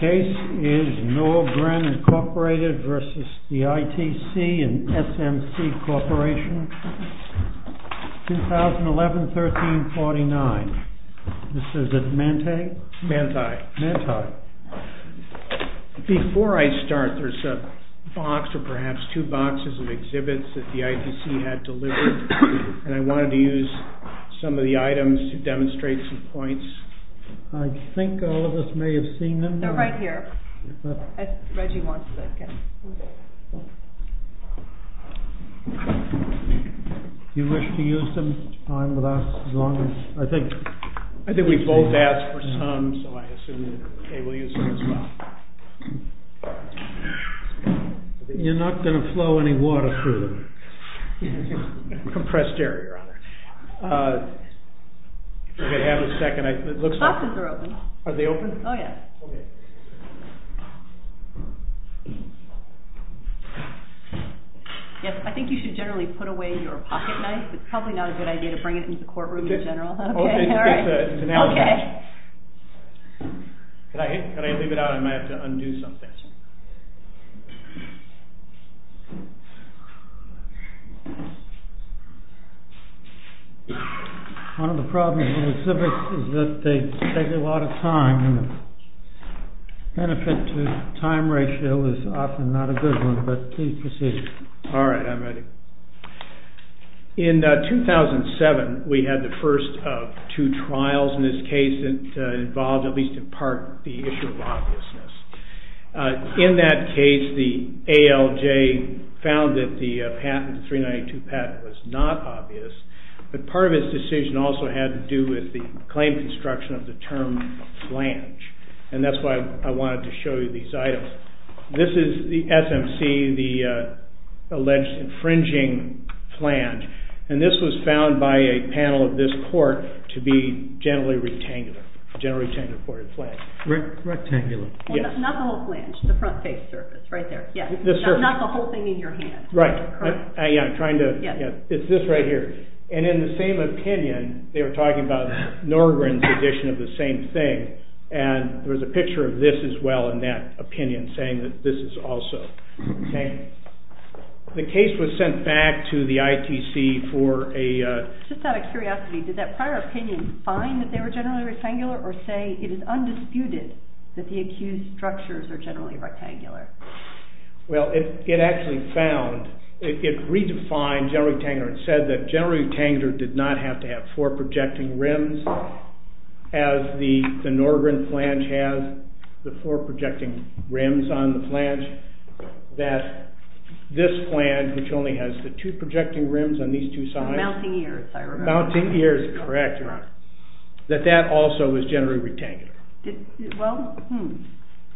Case is NORGREN Inc. v. ITC & SMC Corp. 2011-13-49 This is at Manti Before I start, there's a box or perhaps two boxes of exhibits that the ITC had delivered and I wanted to use some of the items to demonstrate some points I think all of us may have seen them They're right here Do you wish to use them? I think we both asked for some, so I assume they will use them as well You're not going to flow any water through them Compressed air, your honor Okay, have a second The boxes are open I think you should generally put away your pocketknife It's probably not a good idea to bring it into the courtroom in general Could I leave it out? I might have to undo something One of the problems with exhibits is that they take a lot of time and the benefit to time ratio is often not a good one, but please proceed All right, I'm ready In 2007, we had the first of two trials in this case that involved, at least in part, the issue of obviousness In that case, the ALJ found that the patent, the 392 patent, was not obvious But part of this decision also had to do with the claim construction of the term flange And that's why I wanted to show you these items This is the SMC, the alleged infringing flange And this was found by a panel of this court to be generally rectangular Generally rectangular for a flange Rectangular Not the whole flange, the front face surface, right there Not the whole thing in your hand Right, it's this right here And in the same opinion, they were talking about Norgren's edition of the same thing And there was a picture of this as well in that opinion, saying that this is also The case was sent back to the ITC for a Just out of curiosity, did that prior opinion find that they were generally rectangular or say it is undisputed that the accused structures are generally rectangular? Well, it actually found, it redefined generally rectangular It said that generally rectangular did not have to have four projecting rims As the Norgren flange has the four projecting rims on the flange That this flange, which only has the two projecting rims on these two sides Mounting ears, I remember Mounting ears, correct, your honor That that also was generally rectangular Well,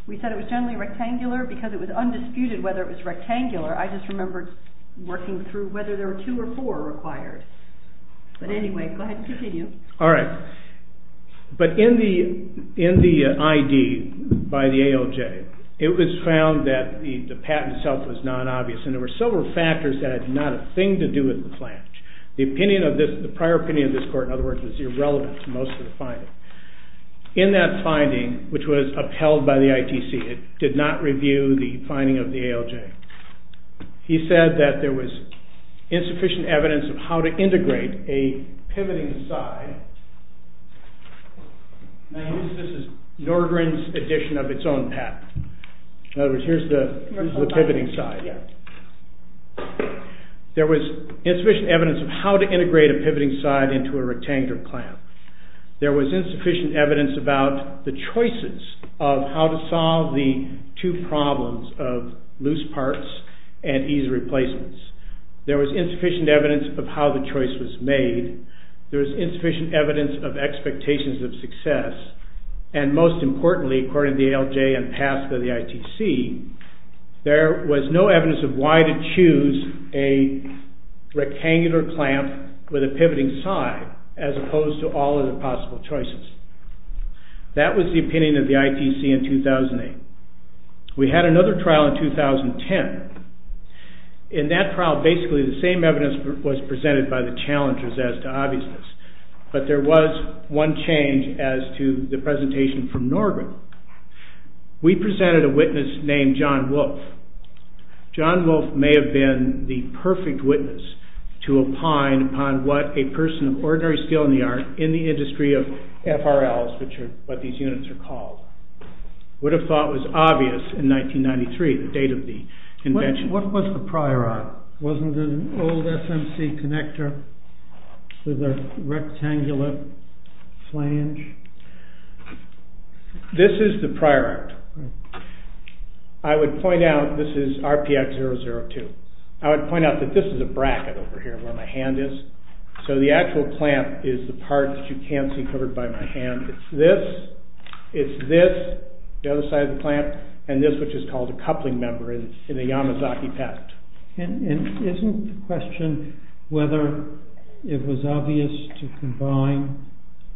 we said it was generally rectangular because it was undisputed whether it was rectangular I just remember working through whether there were two or four required But anyway, go ahead and continue Alright, but in the ID by the ALJ It was found that the patent itself was non-obvious And there were several factors that had not a thing to do with the flange The prior opinion of this court, in other words, was irrelevant to most of the finding In that finding, which was upheld by the ITC It did not review the finding of the ALJ He said that there was insufficient evidence of how to integrate a pivoting side Now this is Norgren's edition of its own patent In other words, here's the pivoting side There was insufficient evidence of how to integrate a pivoting side into a rectangular flange There was insufficient evidence about the choices of how to solve the two problems of loose parts and easy replacements There was insufficient evidence of how the choice was made There was insufficient evidence of expectations of success And most importantly, according to the ALJ and passed by the ITC There was no evidence of why to choose a rectangular clamp with a pivoting side As opposed to all of the possible choices That was the opinion of the ITC in 2008 We had another trial in 2010 In that trial, basically the same evidence was presented by the challengers as to obviousness But there was one change as to the presentation from Norgren We presented a witness named John Wolfe John Wolfe may have been the perfect witness to opine upon what a person of ordinary skill in the art In the industry of FRLs, which are what these units are called Would have thought was obvious in 1993, the date of the invention What was the prior act? Wasn't it an old SMC connector with a rectangular flange? This is the prior act I would point out, this is RPX002 I would point out that this is a bracket over here where my hand is So the actual clamp is the part that you can't see covered by my hand It's this, it's this, the other side of the clamp And this which is called a coupling member in the Yamazaki pact And isn't the question whether it was obvious to combine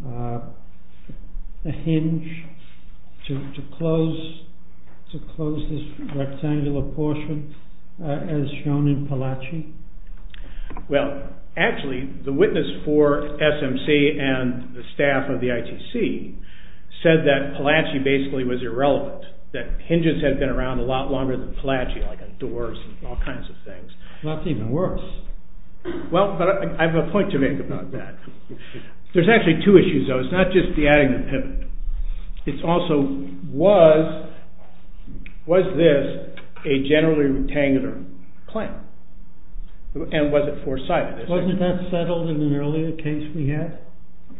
a hinge to close this rectangular portion as shown in Palachi? Well, actually the witness for SMC and the staff of the ITC Said that Palachi basically was irrelevant That hinges had been around a lot longer than Palachi Like doors and all kinds of things That's even worse Well, I have a point to make about that There's actually two issues though It's not just the adding the pivot It's also, was this a generally rectangular clamp? And was it four sided? Wasn't that settled in an earlier case we had?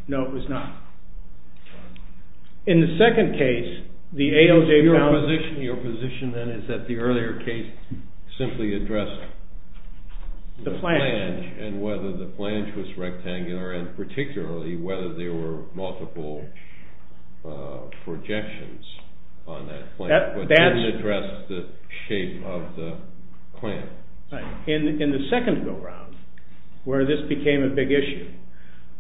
No, it was not In the second case, the ALJ found Your position then is that the earlier case simply addressed the flange And whether the flange was rectangular And particularly whether there were multiple projections on that flange But didn't address the shape of the clamp In the second go round, where this became a big issue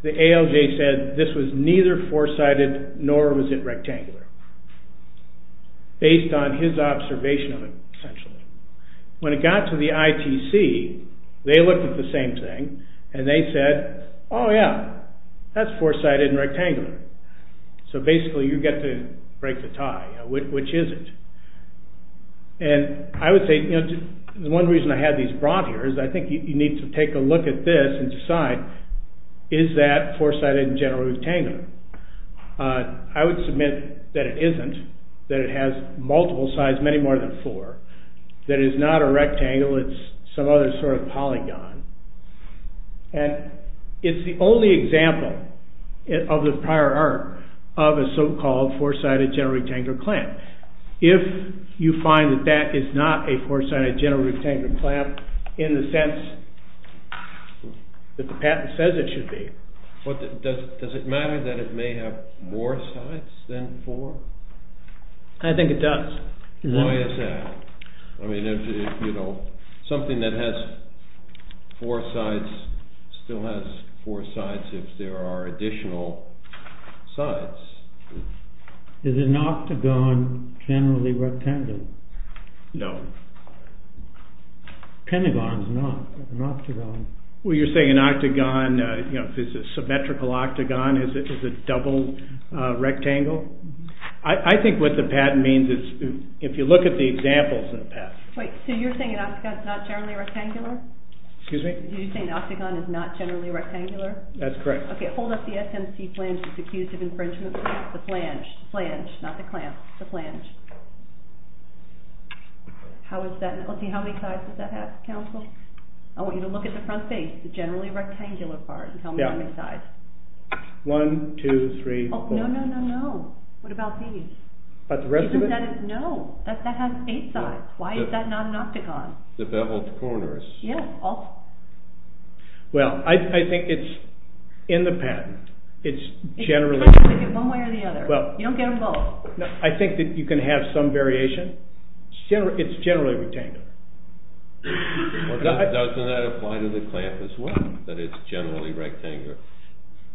The ALJ said this was neither four sided nor was it rectangular Based on his observation of it essentially When it got to the ITC They looked at the same thing And they said, oh yeah That's four sided and rectangular So basically you get to break the tie Which is it? And I would say The one reason I had these brought here Is I think you need to take a look at this And decide, is that four sided and generally rectangular? I would submit that it isn't That it has multiple sides, many more than four That it is not a rectangle It's some other sort of polygon And it's the only example Of the prior art Of a so called four sided, generally rectangular clamp If you find that that is not a four sided, generally rectangular clamp In the sense that the patent says it should be Does it matter that it may have more sides than four? I think it does Why is that? Something that has four sides Still has four sides if there are additional sides Is an octagon generally rectangular? No Pentagon is not an octagon Well you're saying an octagon Is a symmetrical octagon Is a double rectangle? I think what the patent means is If you look at the examples in the past Wait, so you're saying an octagon is not generally rectangular? Excuse me? Did you say an octagon is not generally rectangular? That's correct Okay, hold up the SMC flange It's accused of infringement The flange, flange, not the clamp The flange How is that? Let's see, how many sides does that have, counsel? I want you to look at the front face The generally rectangular part And tell me how many sides One, two, three, four No, no, no, no What about these? What about the rest of it? No, that has eight sides Why is that not an octagon? The beveled corners Well, I think it's In the patent It's generally One way or the other You don't get them both I think that you can have some variation It's generally rectangular Doesn't that apply to the clamp as well? That it's generally rectangular?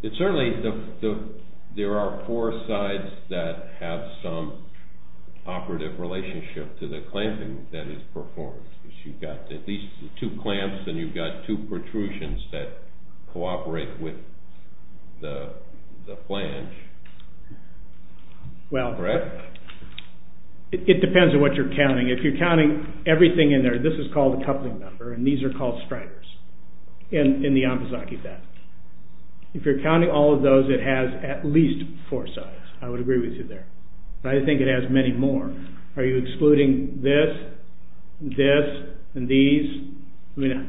It certainly There are four sides That have some Operative relationship to the clamping That is performed You've got these two clamps And you've got two protrusions that Cooperate with The flange Well It depends on what you're counting If you're counting everything in there This is called a coupling number And these are called striders In the Ambosaki patent If you're counting all of those It has at least four sides I would agree with you there But I think it has many more Are you excluding this? This? And these? Let me know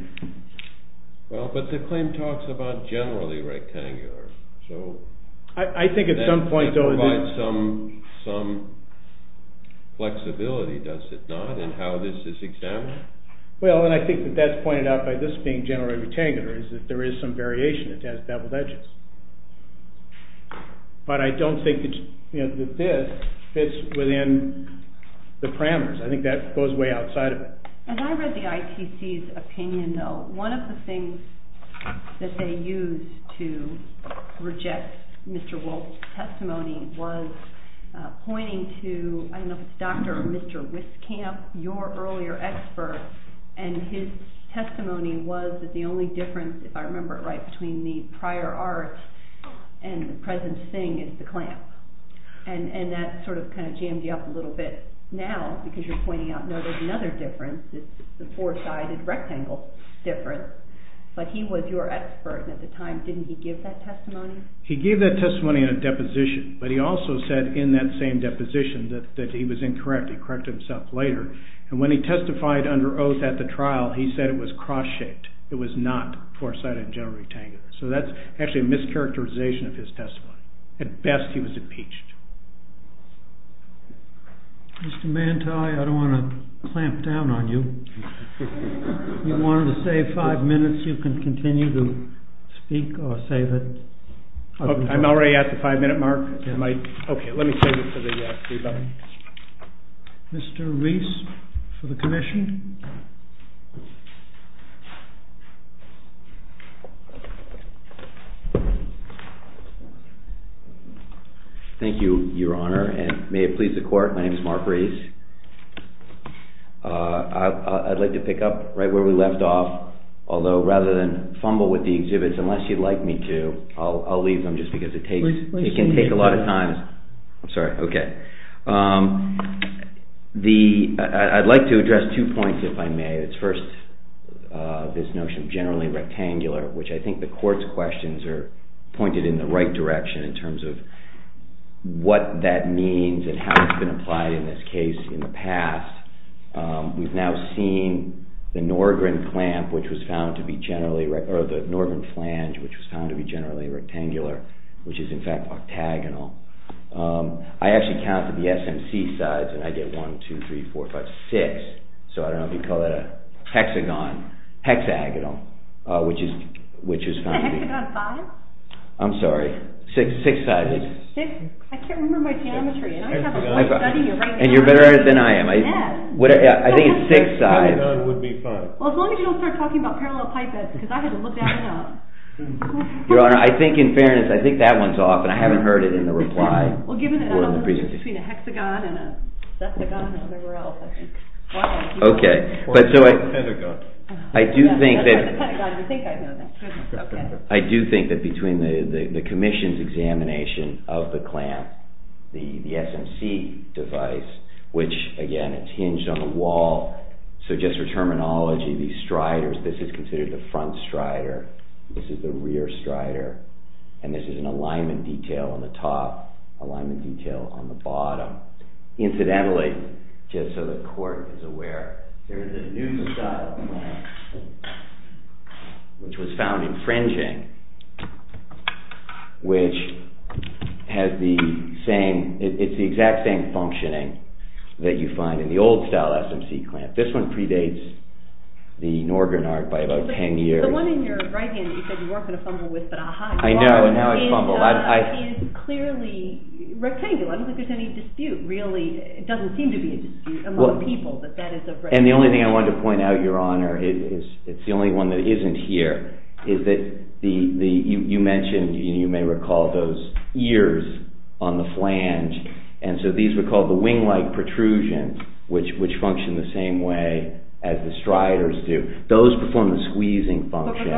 Well, but the claim talks about Generally rectangular, so I think at some point That provides some Flexibility, does it not? And how this is examined Well, and I think that that's pointed out By this being generally rectangular Is that there is some variation It has beveled edges But I don't think that this Fits within The parameters I think that goes way outside of it As I read the ITC's opinion, though One of the things That they used to Reject Mr. Wolfe's Testimony was Pointing to I don't know if it was Dr. or Mr. Wiskamp Your earlier expert And his testimony was That the only difference, if I remember it right Between the prior art And the present thing is the clamp And that sort of Kind of jammed you up a little bit Now, because you're pointing out No, there's another difference The four-sided rectangle Difference, but he was Your expert, and at the time, didn't he give that Testimony? He gave that testimony In a deposition, but he also said In that same deposition that he was Incorrect, he corrected himself later And when he testified under oath at the trial He said it was cross-shaped It was not four-sided and generally rectangular So that's actually a mischaracterization Of his testimony, at best he was Impeached Mr. Manti I don't want to clamp down on you If you wanted to save five minutes You can continue to speak Or say that I'm already at the five minute mark Okay, let me save it Mr. Reese For the commission Thank you, your honor And may it please the court, my name is Mark Reese I'd like to pick up Right where we left off Although rather than fumble with the exhibits Unless you'd like me to, I'll leave them Just because it can take a lot of time I'm sorry, okay I'd like to address two points If I may, it's first This notion of generally rectangular Which I think the court's questions Are pointed in the right direction In terms of what that means And how it's been applied in this case In the past We've now seen The Norgren clamp Which was found to be generally Or the Norgren flange Which was found to be generally rectangular Which is in fact octagonal I actually counted the SMC sides And I get one, two, three, four, five, six So I don't know if you'd call that a hexagon Hexagonal Which is Is a hexagon five? I'm sorry, six sides I can't remember my geometry And you're better at it than I am I think it's six sides A hexagon would be five Well as long as you don't start talking about parallel pipettes Because I had to look that one up Your honor, I think in fairness I think that one's off and I haven't heard it in the reply Well given that it's between a hexagon And a septagon and whatever else Okay Or a pentagon I do think that I do think that Between the commission's examination Of the clamp The SMC device Which again, it's hinged on the wall So just for terminology These striders This is considered the front strider This is the rear strider And this is an alignment detail on the top Alignment detail on the bottom Incidentally Just so the court is aware There is a new style clamp Which was found infringing Which Has the same It's the exact same functioning That you find in the old style SMC clamp This one predates The Norgren art by about ten years The one in your right hand You said you weren't going to fumble with I know, now I fumble It's clearly rectangular I don't think there's any dispute It doesn't seem to be a dispute Among people And the only thing I wanted to point out, your honor It's the only one that isn't here Is that You mentioned, you may recall Those ears on the flange And so these were called the wing-like Protrusions Which function the same way As the striders do Those perform the squeezing function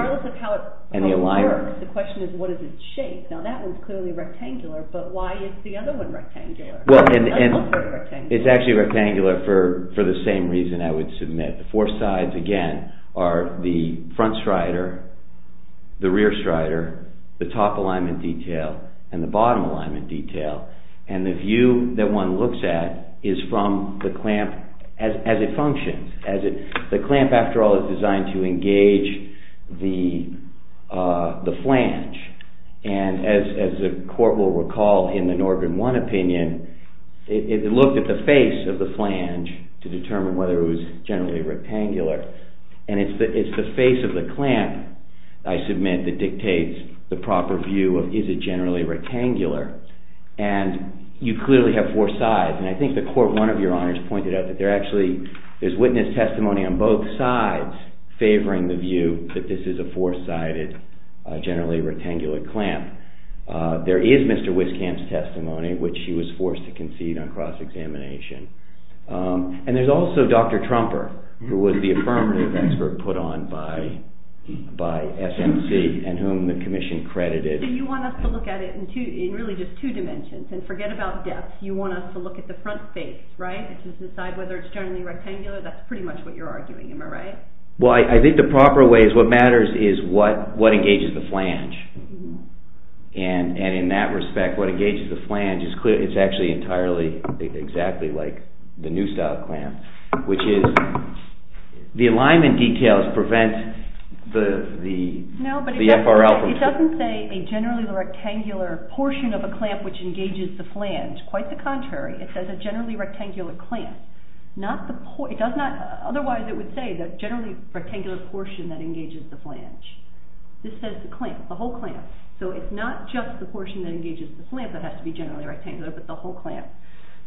And the alignment The question is what is its shape Now that one is clearly rectangular But why is the other one rectangular? It's actually rectangular For the same reason I would submit The four sides again Are the front strider The rear strider The top alignment detail And the bottom alignment detail And the view that one looks at Is from the clamp As it functions The clamp after all is designed to engage The flange And as the court will recall In the Norbin One opinion It looked at the face Of the flange to determine Whether it was generally rectangular And it's the face of the clamp I submit that dictates The proper view of Is it generally rectangular And you clearly have four sides And I think the court, one of your honors Pointed out that there actually Is witness testimony on both sides Favoring the view that this is a four-sided Generally rectangular clamp There is Mr. Wiscamp's testimony Which he was forced to concede On cross-examination And there's also Dr. Trumper Who was the affirmative expert Put on by SMC and whom the commission credited You want us to look at it In really just two dimensions And forget about depth You want us to look at the front face To decide whether it's generally rectangular That's pretty much what you're arguing, am I right? Well, I think the proper way What matters is what engages the flange And in that respect What engages the flange It's actually entirely Exactly like the new style clamp Which is The alignment details prevent The FRL It doesn't say A generally rectangular portion Of a clamp which engages the flange Quite the contrary It says a generally rectangular clamp Otherwise it would say The generally rectangular portion That engages the flange This says the clamp, the whole clamp So it's not just the portion that engages the flange That has to be generally rectangular But the whole clamp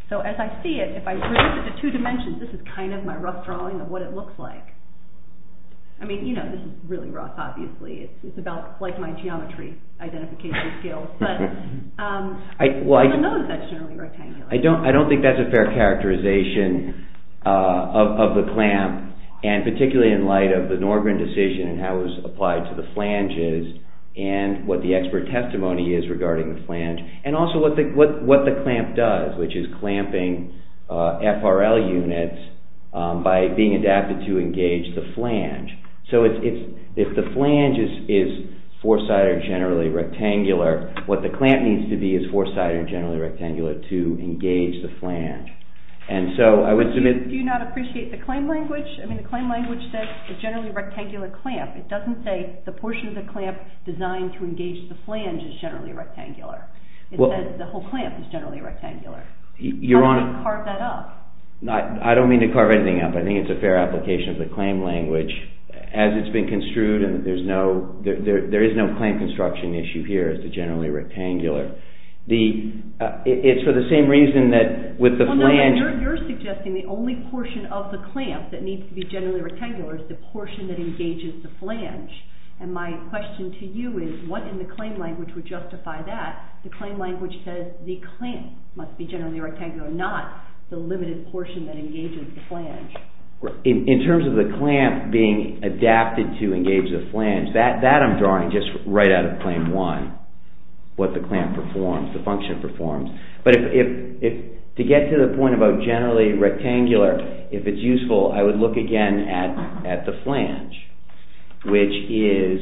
So as I see it, if I reduce it to two dimensions This is kind of my rough drawing of what it looks like I mean, you know This is really rough, obviously It's about like my geometry identification skills But I don't know if that's generally rectangular I don't think that's a fair characterization Of the clamp And particularly in light Of the Norgren decision And how it was applied to the flanges And what the expert testimony is regarding the flange And also what the clamp does Which is clamping FRL units By being adapted to engage The flange So if the flange is Four sided or generally rectangular What the clamp needs to be Is four sided or generally rectangular To engage the flange And so I would submit Do you not appreciate the claim language? The claim language says it's generally a rectangular clamp It doesn't say the portion of the clamp Designed to engage the flange is generally rectangular It says the whole clamp Is generally rectangular How do you carve that up? I don't mean to carve anything up I think it's a fair application of the claim language As it's been construed There is no claim construction issue here As to generally rectangular It's for the same reason That with the flange You're suggesting the only portion of the clamp That needs to be generally rectangular Is the portion that engages the flange And my question to you is What in the claim language would justify that? The claim language says the clamp Must be generally rectangular Not the limited portion that engages the flange In terms of the clamp Being adapted to engage the flange That I'm drawing Just right out of claim 1 What the clamp performs The function performs To get to the point about generally rectangular If it's useful I would look again at the flange Which is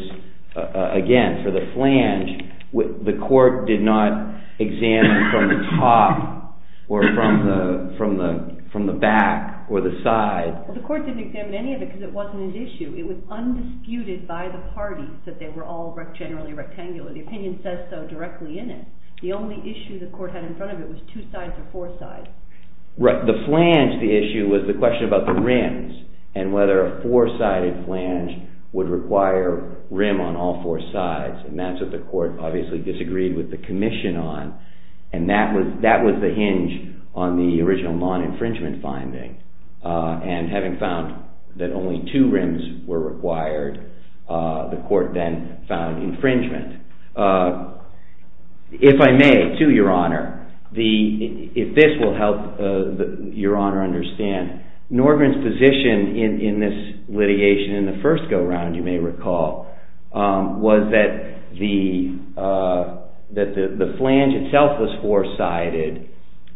Again, for the flange The court did not examine From the top Or from the From the back Or the side The court didn't examine any of it Because it wasn't an issue It was undisputed by the parties That they were all generally rectangular The opinion says so directly in it The only issue the court had in front of it Was two sides or four sides The flange, the issue, was the question about the rims And whether a four-sided flange Would require Rim on all four sides And that's what the court obviously disagreed With the commission on And that was the hinge On the original non-infringement finding And having found That only two rims were required The court then Found infringement If I may To your honor If this will help Your honor understand Norgren's position in this litigation In the first go-round you may recall Was that The That the flange itself was four-sided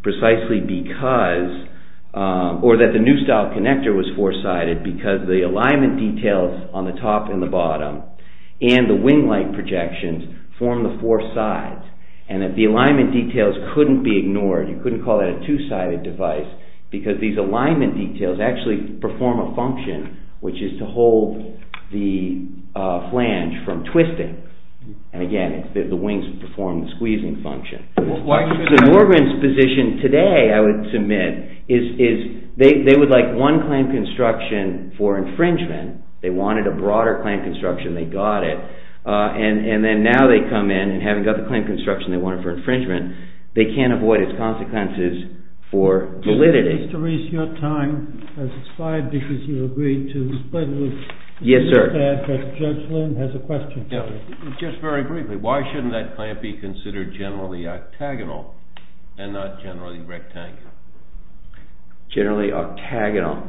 Precisely because Or that the new style connector Was four-sided because the alignment details On the top and the bottom And the wing light projections Formed the four sides And that the alignment details couldn't be ignored You couldn't call that a two-sided device Because these alignment details Actually perform a function Which is to hold The flange from twisting And again The wings perform the squeezing function So Norgren's position Today I would submit Is they would like one clamp construction For infringement They wanted a broader clamp construction They got it And then now they come in and haven't got the clamp construction They wanted for infringement They can't avoid its consequences For validity Mr. Reese your time has expired Because you agreed to split loose Yes sir Just very briefly Why shouldn't that clamp be considered Generally octagonal And not generally rectangular Generally octagonal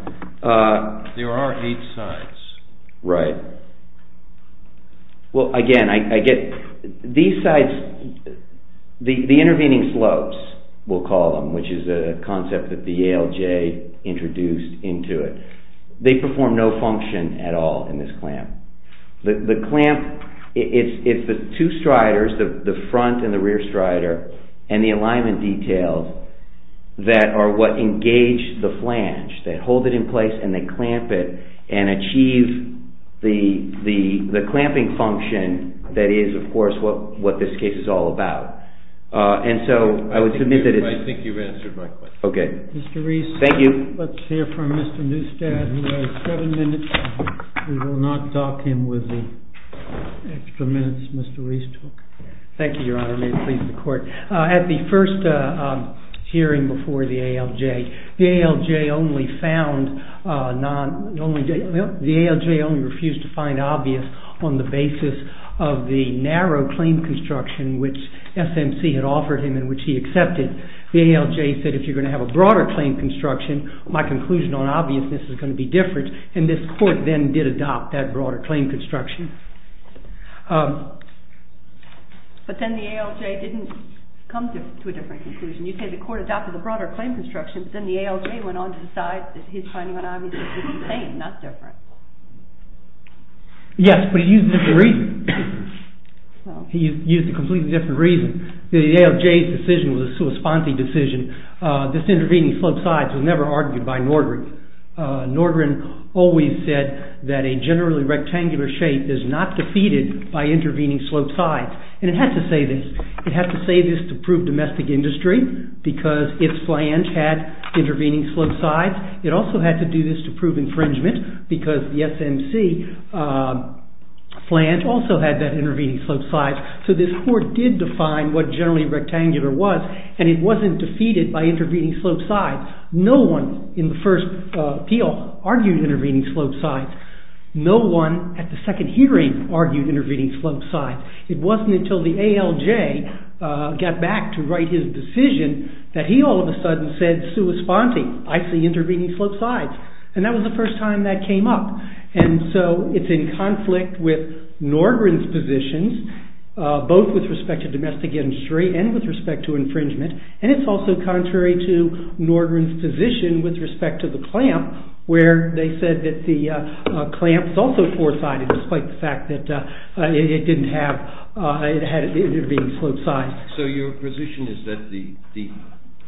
There are eight sides Right Well again These sides The intervening slopes We'll call them Which is a concept that the ALJ Introduced into it They perform no function at all In this clamp The clamp It's the two striders The front and the rear strider And the alignment details That are what engage The flange They hold it in place and they clamp it And achieve The clamping function That is of course what this case is all about And so I would submit that I think you've answered my question Mr. Reese Let's hear from Mr. Neustadt Mr. Neustadt who has seven minutes We will not dock him with the Extra minutes Mr. Reese took Thank you your honor May it please the court At the first hearing before the ALJ The ALJ only found Non The ALJ only refused to find Obvious on the basis Of the narrow claim construction Which SMC had offered him And which he accepted The ALJ said if you're going to have a broader claim construction My conclusion on obviousness Is going to be different And this court then did adopt that broader claim construction Um But then the ALJ didn't Come to a different conclusion You say the court adopted the broader claim construction But then the ALJ went on to decide That his finding on obviousness was the same Not different Yes but he used a different reason He used a completely Different reason The ALJ's decision was a sui sponte decision This intervening slope sides Was never argued by Nordgren Nordgren always said That a generally rectangular shape Is not defeated by intervening slope sides And it had to say this It had to say this to prove domestic industry Because its flange had Intervening slope sides It also had to do this to prove infringement Because the SMC Flange also had That intervening slope sides So this court did define what generally rectangular was And it wasn't defeated by intervening slope sides No one In the first appeal Argued intervening slope sides No one at the second hearing Argued intervening slope sides It wasn't until the ALJ Got back to write his decision That he all of a sudden said Sui sponte, I see intervening slope sides And that was the first time that came up And so it's in conflict With Nordgren's positions Both with respect to Infringement and it's also contrary To Nordgren's position With respect to the clamp Where they said that the clamp Was also four sided despite the fact that It didn't have It had intervening slope sides So your position is that the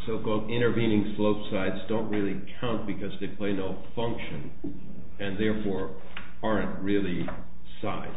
So called intervening slope sides Don't really count because they play No function And therefore aren't really Sides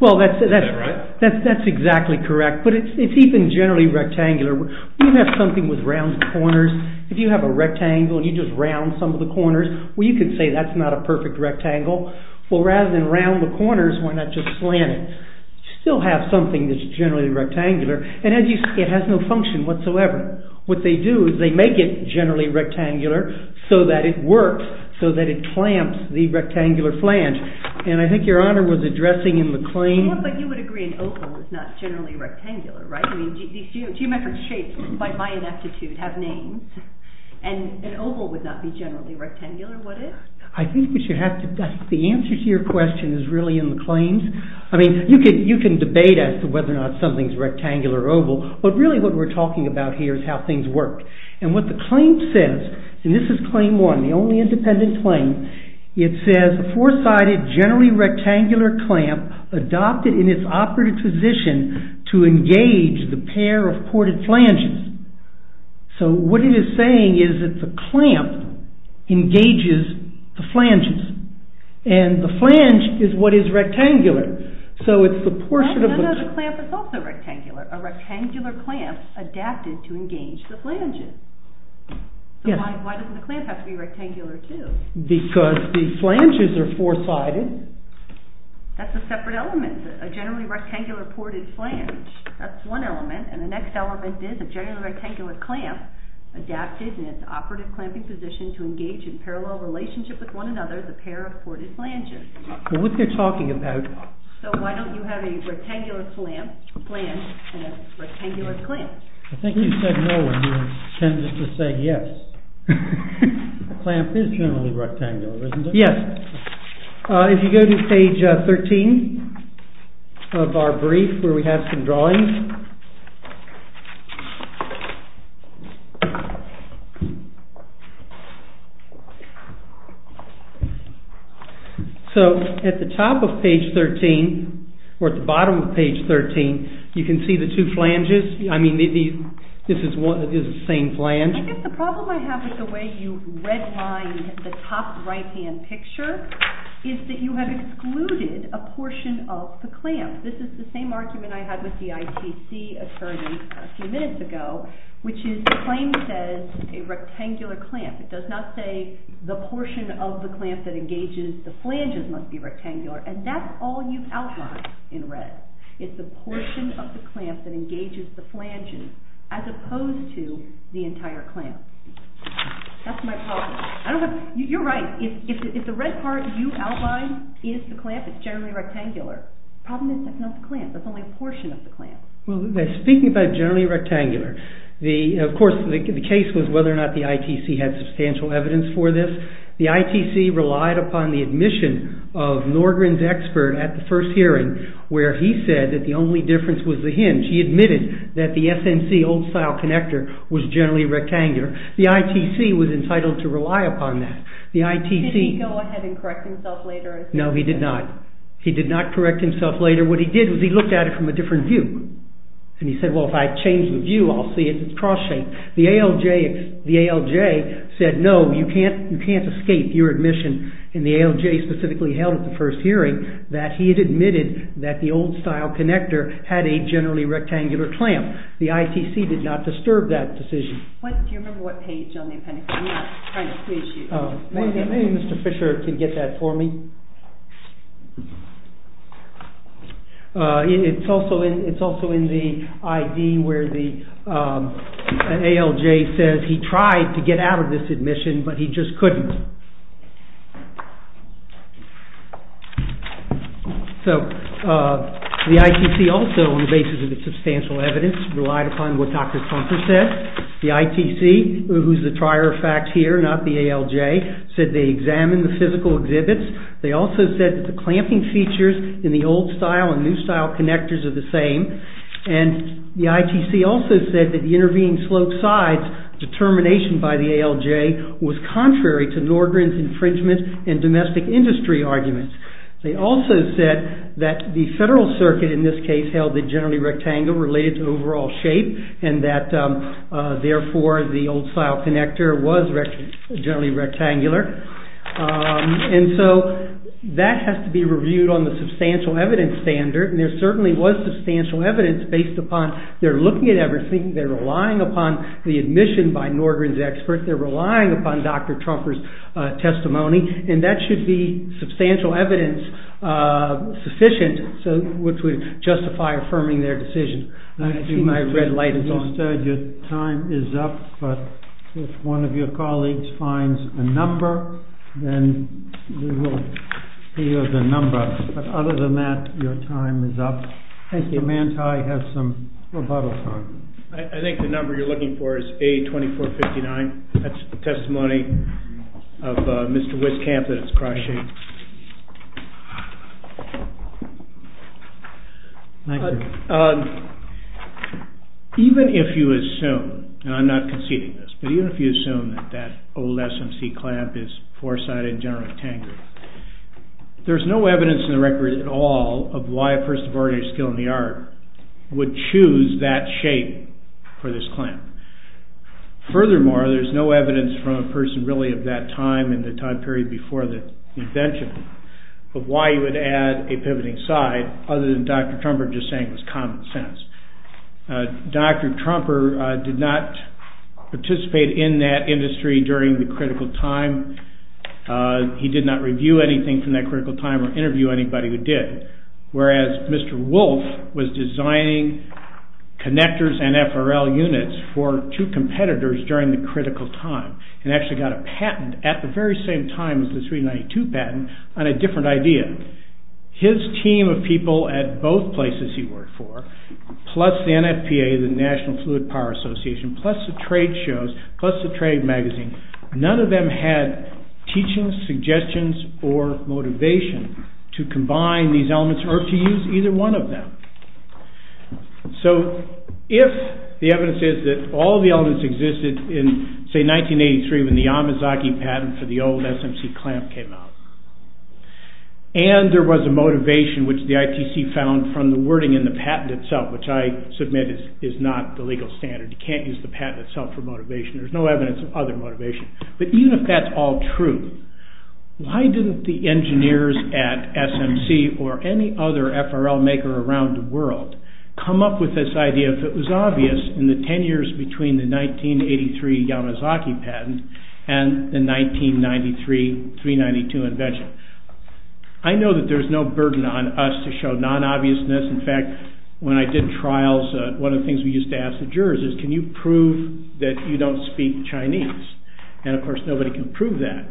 Well that's exactly correct But it's even generally rectangular You have something with round corners If you have a rectangle And you just round some of the corners Well you could say that's not a perfect rectangle Well rather than round the corners Why not just slant it You still have something that's generally rectangular And as you see it has no function whatsoever What they do is they make it generally rectangular So that it works So that it clamps the rectangular flange And I think your honor Was addressing in the claim But you would agree an oval is not generally rectangular Right? I mean these geometric shapes By my ineptitude have names And an oval would not be Generally rectangular would it? I think we should have to The answer to your question is really in the claims I mean you can debate As to whether or not something is rectangular or oval But really what we're talking about here Is how things work And what the claim says And this is claim one The only independent claim It says a four-sided Generally rectangular clamp Adopted in its operative position To engage the pair of Ported flanges So what it is saying is that The clamp engages The flanges And the flange is what is rectangular So it's the portion of the No no no the clamp is also rectangular A rectangular clamp adapted To engage the flanges So why doesn't the clamp have to be rectangular too? Because the flanges are four-sided That's a separate element A generally rectangular ported flange That's one element And the next element is a generally rectangular clamp Adapted in its operative clamping position To engage in parallel relationship with one another The pair of ported flanges What they're talking about So why don't you have a rectangular clamp And a rectangular flange I think you said no And you intended to say yes The clamp is generally rectangular Yes If you go to page 13 Of our brief Where we have some drawings So at the top of page 13 Or at the bottom of page 13 You can see the two flanges I mean this is the same flange I think the problem I have with the way you Redlined the top right-hand picture Is that you have excluded A portion of the clamp This is the same argument I had With the ITC attorney A few minutes ago Which is the claim says A rectangular clamp It does not say the portion of the clamp That engages the flanges must be rectangular And that's all you've outlined in red It's the portion of the clamp That engages the flanges As opposed to the entire clamp That's my problem You're right If the red part you outlined Is the clamp it's generally rectangular The problem is that's not the clamp That's only a portion of the clamp Speaking about generally rectangular Of course the case was whether or not The ITC had substantial evidence for this The ITC relied upon the admission Of Norgren's expert At the first hearing Where he said that the only difference was the hinge He admitted that the SNC old-style connector Was generally rectangular The ITC was entitled to rely upon that The ITC Did he go ahead and correct himself later No he did not He did not correct himself later What he did was he looked at it from a different view And he said well if I change the view I'll see it's cross-shaped The ALJ said no you can't escape your admission And the ALJ specifically held At the first hearing That he had admitted that the old-style connector Had a generally rectangular clamp The ITC did not disturb that decision Do you remember what page on the appendix I'm not trying to confuse you Maybe Mr. Fisher can get that for me It's also in The ID where the ALJ says He tried to get out of this admission But he just couldn't So The ITC also On the basis of the substantial evidence Relied upon what Dr. Trumper said The ITC who's the trier of fact here Not the ALJ Said they examined the physical exhibits They also said that the clamping features In the old-style and new-style connectors Are the same And the ITC also said that The intervening slope sides Determination by the ALJ Was contrary to Norgren's Infringement and domestic industry arguments They also said That the Federal Circuit in this case Held it generally rectangular Related to overall shape And that therefore the old-style connector Was generally rectangular And so That has to be reviewed On the substantial evidence standard And there certainly was substantial evidence Based upon they're looking at everything They're relying upon the admission By Norgren's expert They're relying upon Dr. Trumper's testimony And that should be substantial evidence Sufficient Which would justify Affirming their decision I see my red light is on Your time is up But if one of your colleagues Finds a number Then we will hear the number But other than that Your time is up Thank you Mr. Manti has some rebuttal time I think the number you're looking for Is A2459 That's testimony Of Mr. Wiskamp that it's cross-shaped Thank you Even if you assume And I'm not conceding this But even if you assume that That old SMC clamp is four-sided And generally rectangular There's no evidence in the record at all Of why a person of ordinary skill in the art Would choose that shape For this clamp Furthermore There's no evidence from a person really of that time In the time period before the invention Of why you would add A pivoting side Other than Dr. Trumper just saying it was common sense Dr. Trumper Did not Participate in that industry During the critical time He did not review anything from that critical time Or interview anybody who did Whereas Mr. Wolf Was designing connectors and FRL units For two competitors During the critical time And actually got a patent At the very same time as the 392 patent On a different idea His team of people at both places He worked for Plus the NFPA The National Fluid Power Association Plus the trade shows Plus the trade magazine None of them had Teachings, suggestions, or Motivation to combine These elements or to use either one of them So If the evidence is that All the elements existed in Say 1983 when the Yamazaki Patent for the old SMC clamp came out And There was a motivation which the ITC Found from the wording in the patent itself Which I submit is not The legal standard. You can't use the patent itself For motivation. There's no evidence of other motivation But even if that's all true Why didn't the engineers At SMC or Any other FRL maker around the world Come up with this idea If it was obvious in the ten years Between the 1983 Yamazaki Patent and the 1993 392 Invention. I know That there's no burden on us to show Non-obviousness. In fact, when I did Trials, one of the things we used to ask The jurors is can you prove that You don't speak Chinese And of course nobody can prove that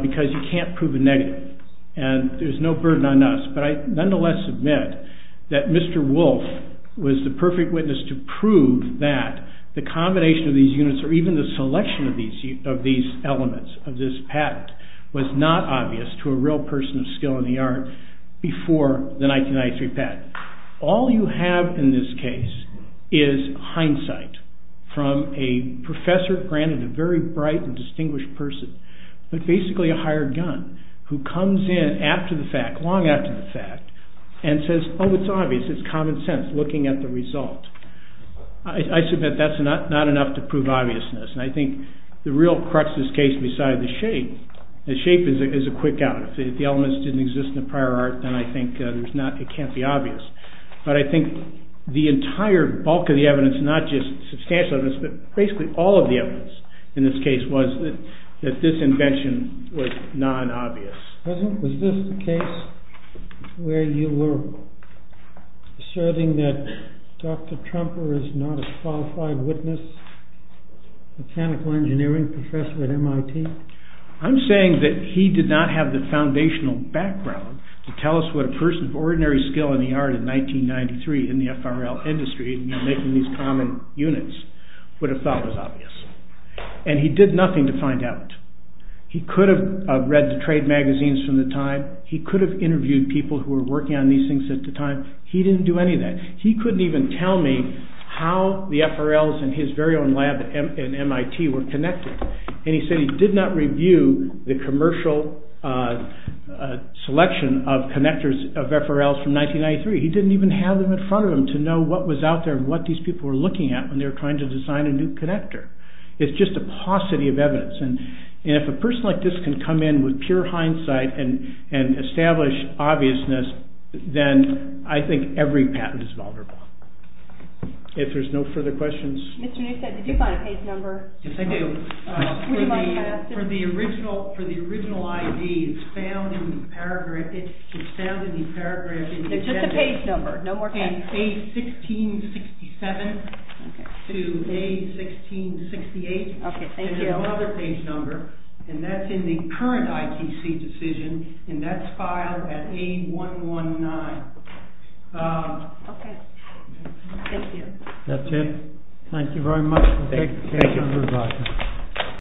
Because you can't prove a negative And there's no burden on us But I nonetheless submit that Mr. Wolf was the perfect witness To prove that The combination of these units or even the Selection of these elements Of this patent was not Obvious to a real person of skill in the art Before the 1993 Patent. All you have In this case is Hindsight from a Professor, granted a very bright And distinguished person, but basically A hired gun who comes in After the fact, long after the fact And says oh it's obvious It's common sense looking at the result I submit that's not Enough to prove obviousness and I think The real crux of this case beside The shape, the shape is a Quick out. If the elements didn't exist in the Prior art then I think it can't Be obvious. But I think The entire bulk of the evidence Not just substantial evidence but basically All of the evidence in this case was That this invention Was non-obvious. Was this the case Where you were Asserting that Dr. Trumper is not a qualified witness Mechanical Engineering professor at MIT? I'm saying that he did not Have the foundational background To tell us what a person of ordinary Skill in the art in 1993 In the FRL industry In making these common units Would have thought was obvious. And he did nothing to find out. He could have read the trade magazines From the time, he could have interviewed People who were working on these things at the time He didn't do any of that. He couldn't even Tell me how the FRLs And his very own lab at MIT Were connected and he said He did not review the commercial Selection Of connectors of FRLs From 1993. He didn't even have them in front of him To know what was out there and what these people Were looking at when they were trying to design a new connector. It's just a paucity Of evidence and if a person like this Can come in with pure hindsight And establish obviousness Then I think Every patent is vulnerable. If there's no further questions Did you find a page number? Yes I do. For the original For the original ID It's found in the paragraph It's found in the paragraph It's just a page number Page 1667 To page 1668 There's another page number And that's in the current ITC decision and that's Filed at page 119 Ok Thank you That's it. Thank you very much Thank you very much